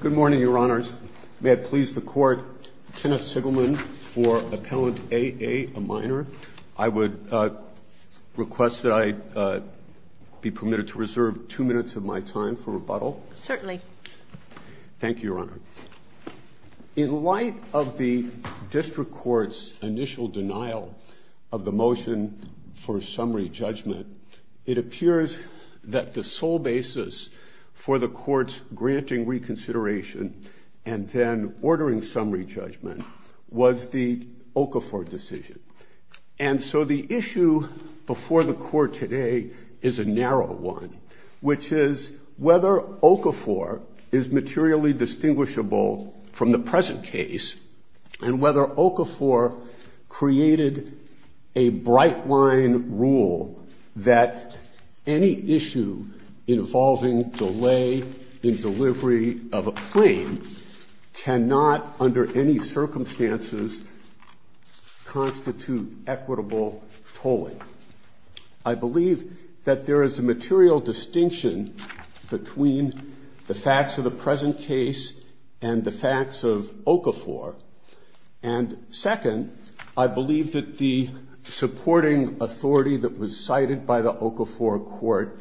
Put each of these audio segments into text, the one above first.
Good morning, Your Honors. May I please the Court, Kenneth Sigelman for Appellant A.A., a minor? I would request that I be permitted to reserve two minutes of my time for rebuttal. Certainly. Thank you, Your Honor. In light of the District Court's initial denial of the motion for summary judgment, it appears that the sole basis for the Court's granting reconsideration and then ordering summary judgment was the Okafor decision. And so the issue before the Court today is a narrow one, which is whether Okafor is materially distinguishable from the present case and whether Okafor created a bright-line rule that any issue involving delay in delivery of a claim cannot under any circumstances constitute equitable tolling. I believe that there is a material distinction between the facts of the present case and the facts of Okafor. And second, I believe that the supporting authority that was cited by the Okafor Court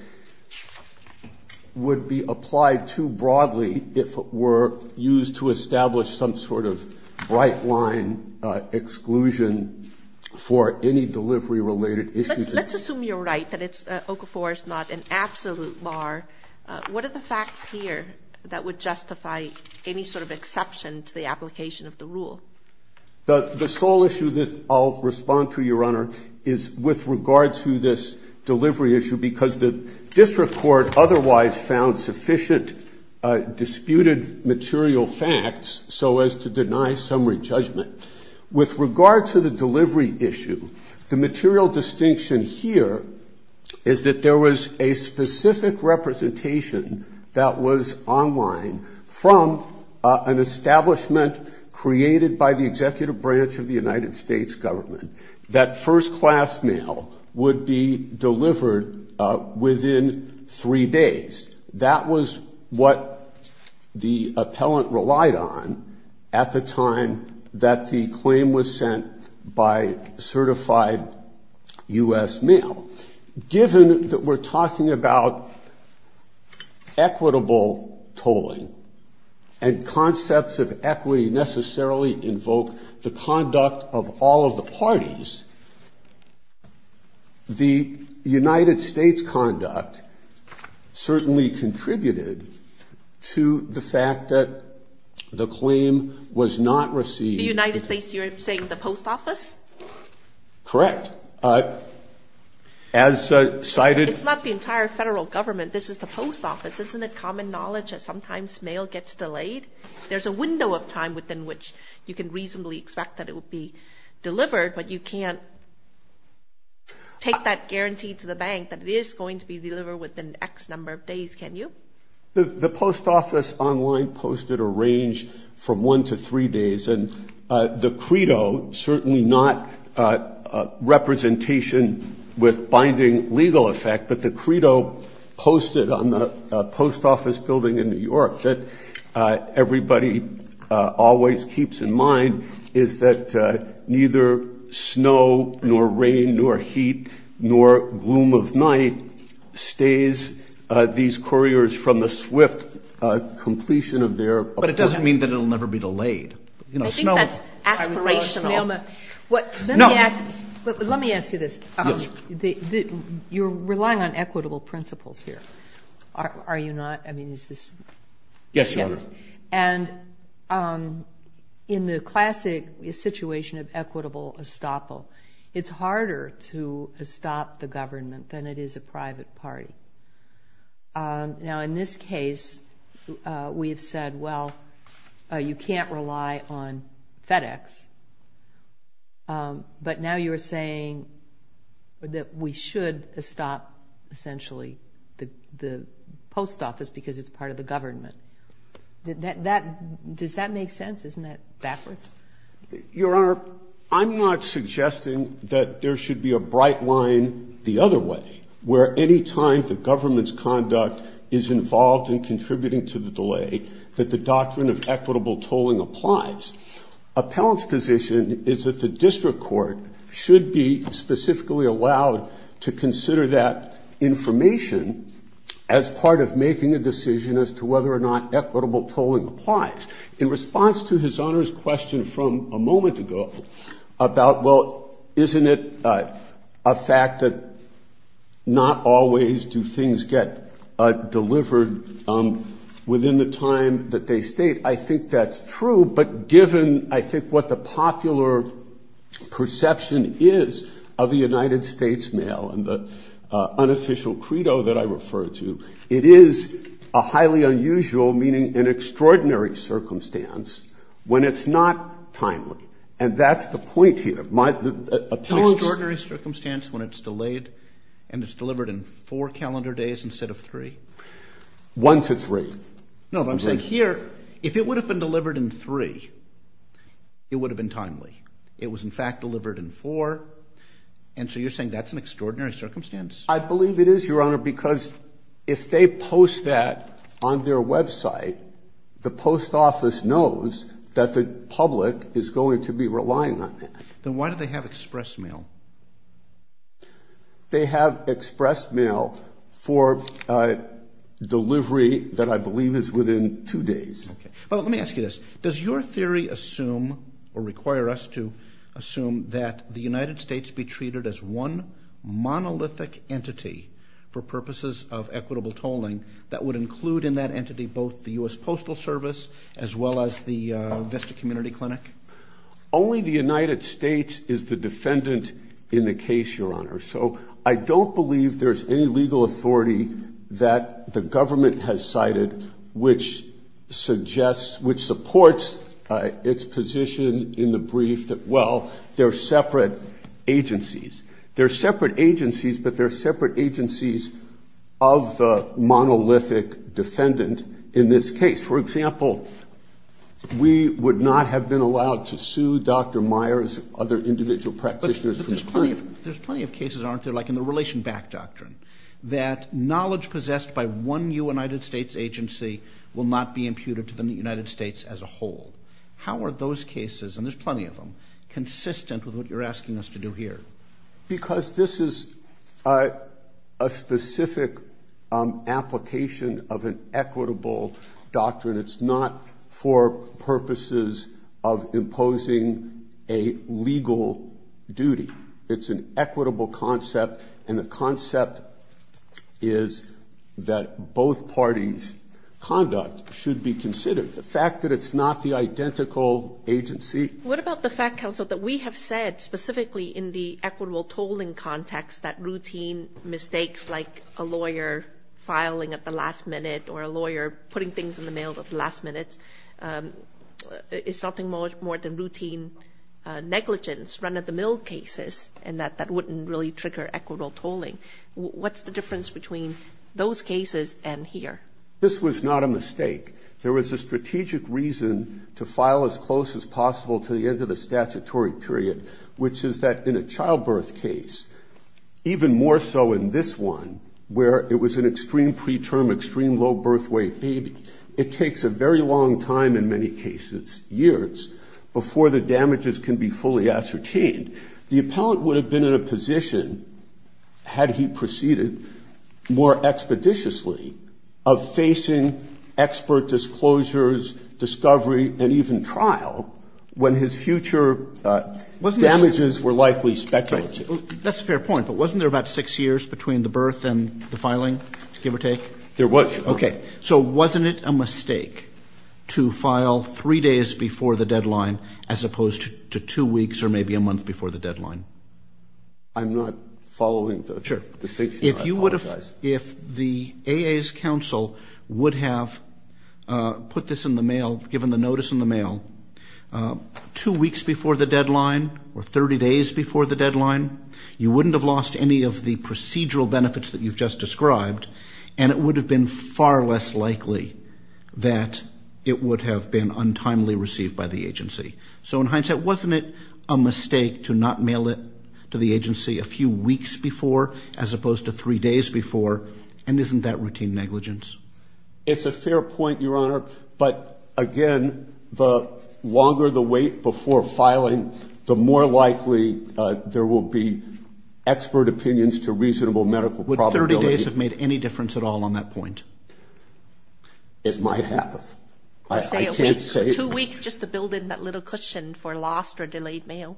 would be applied too broadly if it were used to establish some sort of bright-line exclusion for any delivery-related issues. Let's assume you're right, that Okafor is not an absolute bar. What are the facts here that would justify any sort of exception to the application of the rule? The sole issue that I'll respond to, Your Honor, is with regard to this delivery issue, because the district court otherwise found sufficient disputed material facts so as to deny summary judgment. With regard to the delivery issue, the material distinction here is that there was a specific representation that was online from an establishment created by the executive branch of the United States government that first-class mail would be delivered within three days. That was what the appellant relied on at the time that the claim was sent by certified U.S. mail. Given that we're talking about equitable tolling and concepts of equity necessarily invoke the conduct of all of the parties, the United States conduct certainly contributed to the fact that the claim was not received. The United States, you're saying the post office? Correct. It's not the entire federal government. This is the post office. Isn't it common knowledge that sometimes mail gets delayed? There's a window of time within which you can reasonably expect that it will be delivered, but you can't take that guarantee to the bank that it is going to be delivered within X number of days, can you? The post office online posted a range from one to three days, and the credo, certainly not representation with binding legal effect, but the credo posted on the post office building in New York that everybody always keeps in mind, is that neither snow nor rain nor heat nor gloom of night stays these couriers from the swift completion of their appointment. It doesn't mean that it will never be delayed. I think that's aspirational. Let me ask you this. You're relying on equitable principles here, are you not? Yes, Your Honor. And in the classic situation of equitable estoppel, it's harder to estop the government than it is a private party. Now, in this case, we have said, well, you can't rely on FedEx, but now you're saying that we should estop essentially the post office because it's part of the government. Does that make sense? Isn't that backwards? Your Honor, I'm not suggesting that there should be a bright line the other way, where any time the government's conduct is involved in contributing to the delay, that the doctrine of equitable tolling applies. Appellant's position is that the district court should be specifically allowed to consider that information as part of making a decision as to whether or not equitable tolling applies. In response to His Honor's question from a moment ago about, well, isn't it a fact that not always do things get delivered within the time that they state, I think that's true. But given, I think, what the popular perception is of the United States mail and the unofficial credo that I refer to, it is a highly unusual, meaning an extraordinary circumstance, when it's not timely. And that's the point here. An extraordinary circumstance when it's delayed and it's delivered in four calendar days instead of three? One to three. No, but I'm saying here, if it would have been delivered in three, it would have been timely. It was, in fact, delivered in four. And so you're saying that's an extraordinary circumstance? I believe it is, Your Honor, because if they post that on their Web site, the post office knows that the public is going to be relying on that. Then why do they have express mail? They have express mail for delivery that I believe is within two days. Well, let me ask you this. Does your theory assume or require us to assume that the United States be treated as one monolithic entity for purposes of equitable tolling that would include in that entity both the U.S. Postal Service as well as the Vista Community Clinic? Only the United States is the defendant in the case, Your Honor. So I don't believe there's any legal authority that the government has cited which suggests, which supports its position in the brief that, well, they're separate agencies. They're separate agencies, but they're separate agencies of the monolithic defendant in this case. For example, we would not have been allowed to sue Dr. Myers and other individual practitioners. But there's plenty of cases, aren't there, like in the relation back doctrine, that knowledge possessed by one United States agency will not be imputed to the United States as a whole. How are those cases, and there's plenty of them, consistent with what you're asking us to do here? Because this is a specific application of an equitable doctrine. It's not for purposes of imposing a legal duty. It's an equitable concept, and the concept is that both parties' conduct should be considered. The fact that it's not the identical agency. What about the fact, counsel, that we have said specifically in the equitable tolling context that routine mistakes like a lawyer filing at the last minute or a lawyer putting things in the mail at the last minute is something more than routine negligence run-of-the-mill cases and that that wouldn't really trigger equitable tolling. What's the difference between those cases and here? This was not a mistake. There was a strategic reason to file as close as possible to the end of the statutory period, which is that in a childbirth case, even more so in this one where it was an extreme preterm, extreme low birth weight baby, it takes a very long time in many cases, years, before the damages can be fully ascertained. The appellant would have been in a position had he proceeded more expeditiously of facing expert disclosures, discovery and even trial when his future damages were likely speculative. That's a fair point. But wasn't there about six years between the birth and the filing, give or take? There was. Okay. So wasn't it a mistake to file three days before the deadline as opposed to two weeks or maybe a month before the deadline? I'm not following the state statute. I apologize. If the AA's counsel would have put this in the mail, given the notice in the mail, two weeks before the deadline or 30 days before the deadline, you wouldn't have lost any of the procedural benefits that you've just described, and it would have been far less likely that it would have been untimely received by the agency. So in hindsight, wasn't it a mistake to not mail it to the agency a few weeks before as opposed to three days before? And isn't that routine negligence? It's a fair point, Your Honor. But, again, the longer the wait before filing, the more likely there will be expert opinions to reasonable medical probability. Would 30 days have made any difference at all on that point? It might have. I can't say. Two weeks just to build in that little cushion for lost or delayed mail?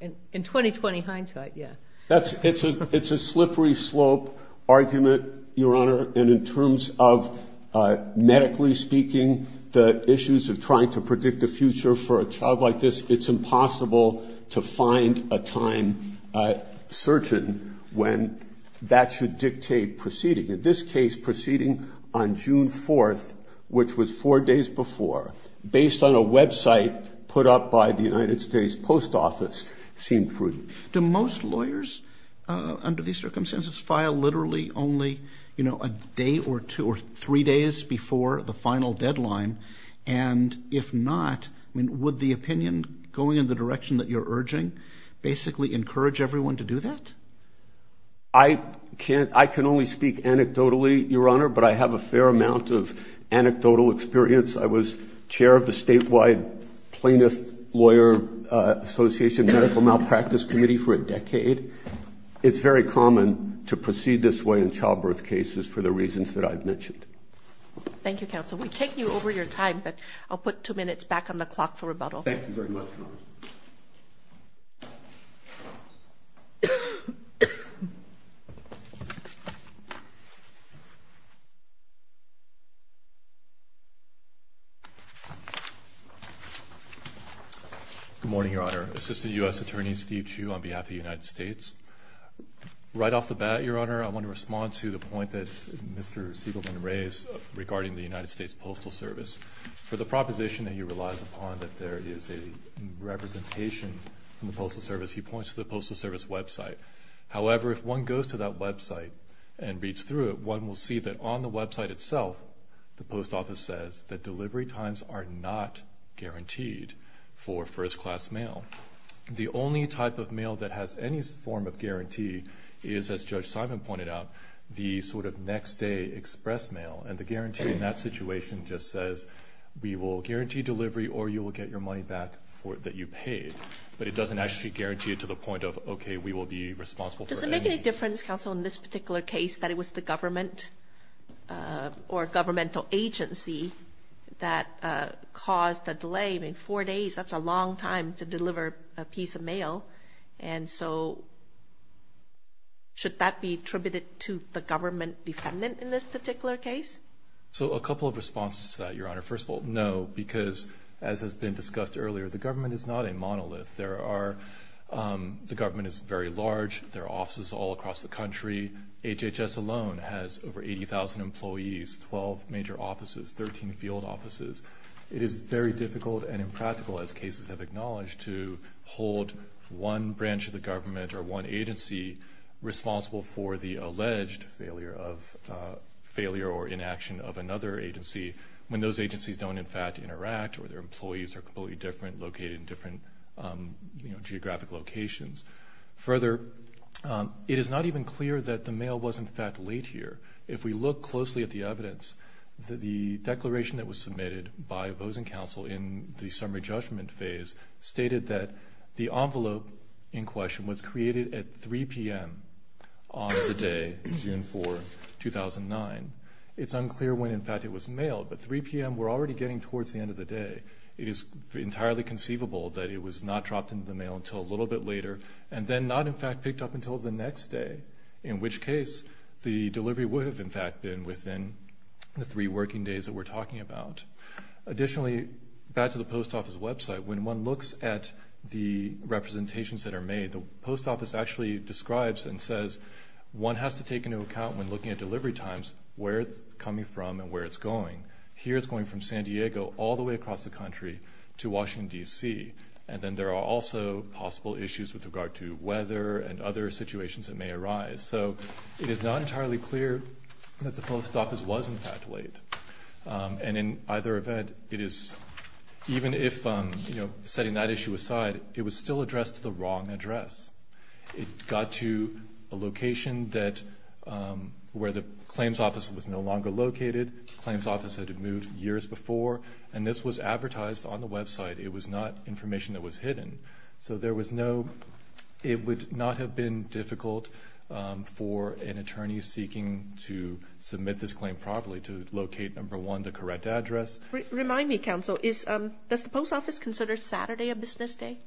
In 2020 hindsight, yeah. It's a slippery slope argument, Your Honor, and in terms of medically speaking the issues of trying to predict the future for a child like this, it's impossible to find a time certain when that should dictate proceeding. In this case, proceeding on June 4th, which was four days before, based on a website put up by the United States Post Office, seemed prudent. Do most lawyers under these circumstances file literally only, you know, a day or two or three days before the final deadline? And if not, would the opinion going in the direction that you're urging basically encourage everyone to do that? I can only speak anecdotally, Your Honor, but I have a fair amount of anecdotal experience. I was chair of the statewide plaintiff lawyer association medical malpractice committee for a decade. It's very common to proceed this way in childbirth cases for the reasons that I've mentioned. Thank you, counsel. We've taken you over your time, but I'll put two minutes back on the clock for rebuttal. Thank you very much, Your Honor. Good morning, Your Honor. Assistant U.S. Attorney Steve Chu on behalf of the United States. Right off the bat, Your Honor, I want to respond to the point that Mr. Siegelman raised regarding the United States Postal Service. For the proposition that he relies upon that there is a representation from the Postal Service, he points to the Postal Service website. However, if one goes to that website and reads through it, one will see that on the website itself, the post office says that delivery times are not guaranteed for first-class mail. The only type of mail that has any form of guarantee is, as Judge Simon pointed out, the sort of next-day express mail. And the guarantee in that situation just says we will guarantee delivery or you will get your money back that you paid. But it doesn't actually guarantee it to the point of, okay, we will be responsible for it. Does it make any difference, counsel, in this particular case that it was the government or governmental agency that caused the delay? I mean, four days, that's a long time to deliver a piece of mail. And so should that be attributed to the government defendant in this particular case? So a couple of responses to that, Your Honor. First of all, no, because as has been discussed earlier, the government is not a monolith. The government is very large. There are offices all across the country. HHS alone has over 80,000 employees, 12 major offices, 13 field offices. It is very difficult and impractical, as cases have acknowledged, to hold one branch of the government or one agency responsible for the alleged failure or inaction of another agency when those agencies don't, in fact, interact or their employees are completely different, located in different geographic locations. Further, it is not even clear that the mail was, in fact, laid here. If we look closely at the evidence, the declaration that was submitted by opposing counsel in the summary judgment phase stated that the envelope in question was created at 3 p.m. on the day, June 4, 2009. It's unclear when, in fact, it was mailed, but 3 p.m. we're already getting towards the end of the day. It is entirely conceivable that it was not dropped into the mail until a little bit later and then not, in fact, picked up until the next day, in which case the delivery would have, in fact, been within the three working days that we're talking about. Additionally, back to the post office website, when one looks at the representations that are made, the post office actually describes and says one has to take into account when looking at delivery times where it's coming from and where it's going. Here it's going from San Diego all the way across the country to Washington, D.C., and then there are also possible issues with regard to weather and other situations that may arise. So it is not entirely clear that the post office was, in fact, late. And in either event, even if setting that issue aside, it was still addressed to the wrong address. It got to a location where the claims office was no longer located, claims office had moved years before, and this was advertised on the website. It was not information that was hidden. So there was no, it would not have been difficult for an attorney seeking to submit this claim properly to locate, number one, the correct address. Remind me, counsel, does the post office consider Saturday a business day?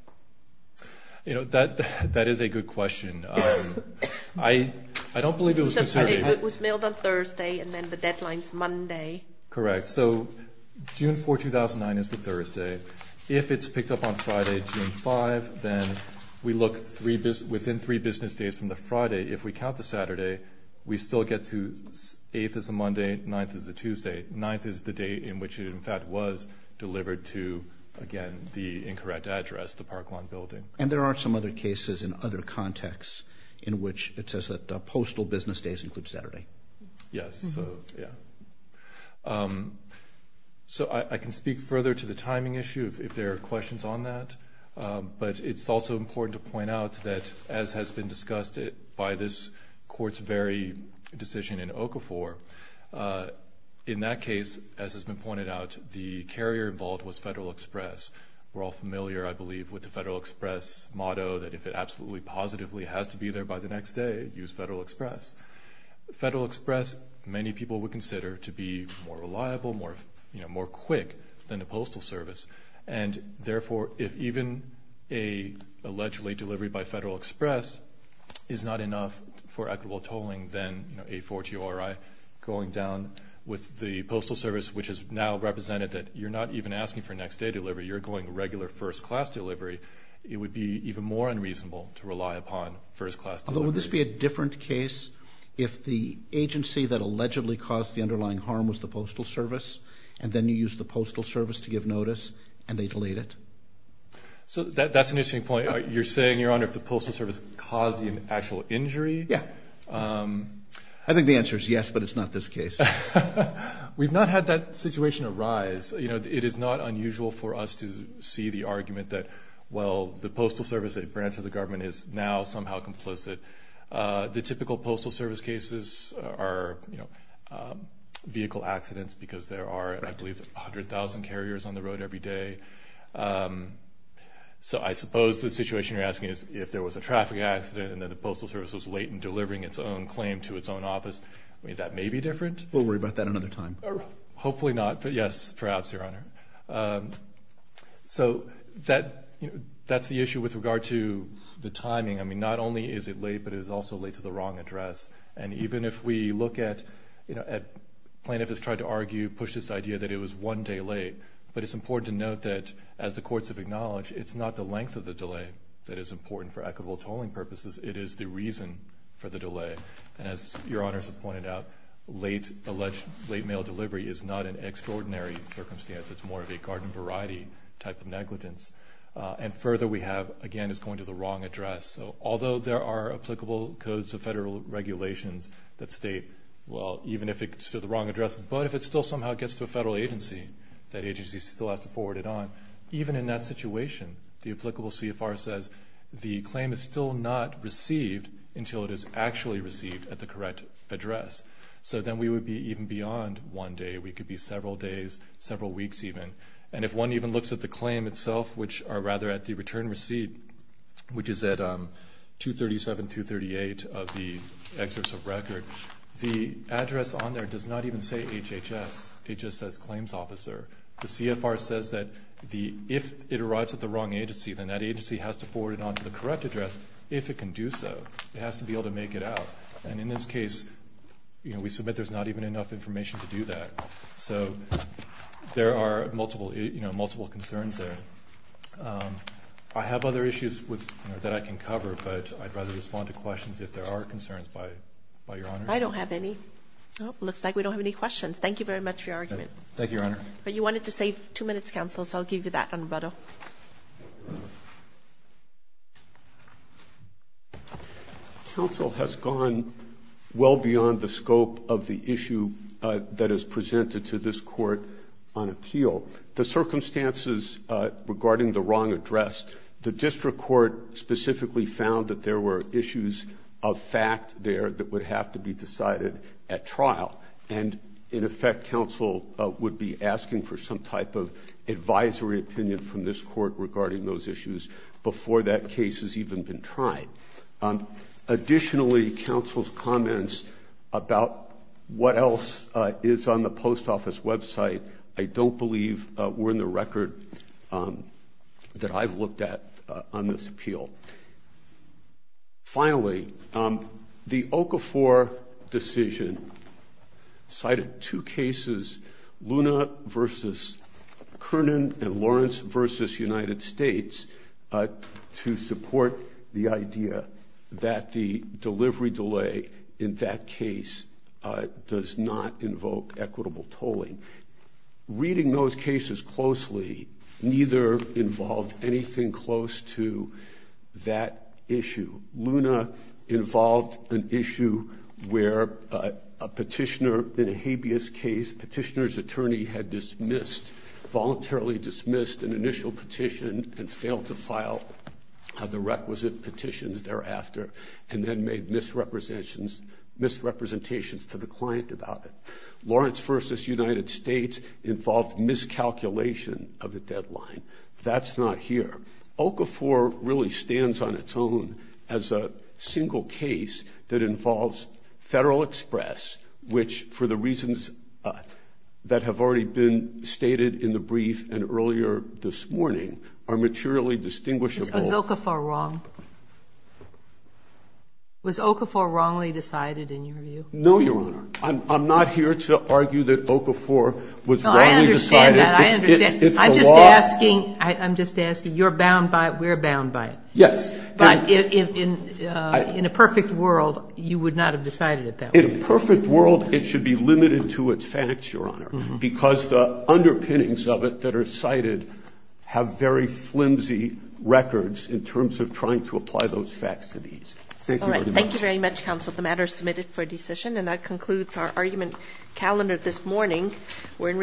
You know, that is a good question. I don't believe it was considered. It was mailed on Thursday and then the deadline's Monday. Correct. So June 4, 2009 is the Thursday. If it's picked up on Friday, June 5, then we look within three business days from the Friday. If we count the Saturday, we still get to 8th is a Monday, 9th is a Tuesday. 9th is the date in which it, in fact, was delivered to, again, the incorrect address, the Parkland building. And there are some other cases in other contexts in which it says that postal business days include Saturday. Yes. So, yeah. So I can speak further to the timing issue if there are questions on that, but it's also important to point out that, as has been discussed by this Court's very decision in Okafor, in that case, as has been pointed out, the carrier involved was Federal Express. We're all familiar, I believe, with the Federal Express motto that if it absolutely positively has to be there by the next day, use Federal Express. Federal Express, many people would consider to be more reliable, more quick than a postal service. And, therefore, if even an alleged late delivery by Federal Express is not enough for equitable tolling, then a 4-T-O-R-I going down with the postal service, which has now represented that you're not even asking for next-day delivery, you're going regular first-class delivery, it would be even more unreasonable to rely upon first-class delivery. Although would this be a different case if the agency that allegedly caused the underlying harm was the postal service and then you used the postal service to give notice and they delayed it? So that's an interesting point. You're saying, Your Honor, if the postal service caused the actual injury? Yeah. I think the answer is yes, but it's not this case. We've not had that situation arise. The postal service branch of the government is now somehow complicit. The typical postal service cases are vehicle accidents because there are, I believe, 100,000 carriers on the road every day. So I suppose the situation you're asking is if there was a traffic accident and then the postal service was late in delivering its own claim to its own office. I mean, that may be different. We'll worry about that another time. Hopefully not, but yes, perhaps, Your Honor. So that's the issue with regard to the timing. I mean, not only is it late, but it is also late to the wrong address. And even if we look at plaintiff has tried to argue, push this idea that it was one day late, but it's important to note that, as the courts have acknowledged, it's not the length of the delay that is important for equitable tolling purposes. It is the reason for the delay. And as Your Honors have pointed out, late mail delivery is not an extraordinary circumstance. It's more of a garden variety type of negligence. And further, we have, again, it's going to the wrong address. So although there are applicable codes of federal regulations that state, well, even if it's to the wrong address, but if it still somehow gets to a federal agency, that agency still has to forward it on, even in that situation, the applicable CFR says the claim is still not received until it is actually received at the correct address. So then we would be even beyond one day. We could be several days, several weeks even. And if one even looks at the claim itself, which are rather at the return receipt, which is at 237, 238 of the excerpts of record, the address on there does not even say HHS. It just says claims officer. The CFR says that if it arrives at the wrong agency, then that agency has to forward it on to the correct address, if it can do so. It has to be able to make it out. And in this case, we submit there's not even enough information to do that. So there are multiple concerns there. I have other issues that I can cover, but I'd rather respond to questions if there are concerns by Your Honors. I don't have any. It looks like we don't have any questions. Thank you very much for your argument. Thank you, Your Honor. You wanted to save two minutes, Counsel, so I'll give you that on rebuttal. Counsel has gone well beyond the scope of the issue that is presented to this court on appeal. The circumstances regarding the wrong address, the district court specifically found that there were issues of fact there that would have to be decided at trial. And in effect, Counsel would be asking for some type of advisory opinion from this court regarding those issues before that case has even been tried. Additionally, Counsel's comments about what else is on the post office website, I don't believe were in the record that I've looked at on this appeal. Finally, the Okafor decision cited two cases, Luna versus Kernan and Lawrence versus United States, to support the idea that the delivery delay in that case does not invoke equitable tolling. Reading those cases closely, neither involved anything close to that issue. Luna involved an issue where a petitioner in a habeas case, petitioner's attorney had voluntarily dismissed an initial petition and failed to file the requisite petitions thereafter and then made misrepresentations to the client about it. Lawrence versus United States involved miscalculation of the deadline. That's not here. Okafor really stands on its own as a single case that involves Federal Express, which for the reasons that have already been stated in the brief and earlier this morning, are materially distinguishable. Was Okafor wrong? Was Okafor wrongly decided in your view? No, Your Honor. I'm not here to argue that Okafor was wrongly decided. I understand that. It's the law. I'm just asking, you're bound by it, we're bound by it. Yes. But in a perfect world, you would not have decided it that way. In a perfect world, it should be limited to its facts, Your Honor, because the underpinnings of it that are cited have very flimsy records in terms of trying to apply those facts to these. Thank you very much. All right. Thank you very much, Counsel. The matter is submitted for decision. And that concludes our argument calendar this morning. We're in recess. Thank you. All rise.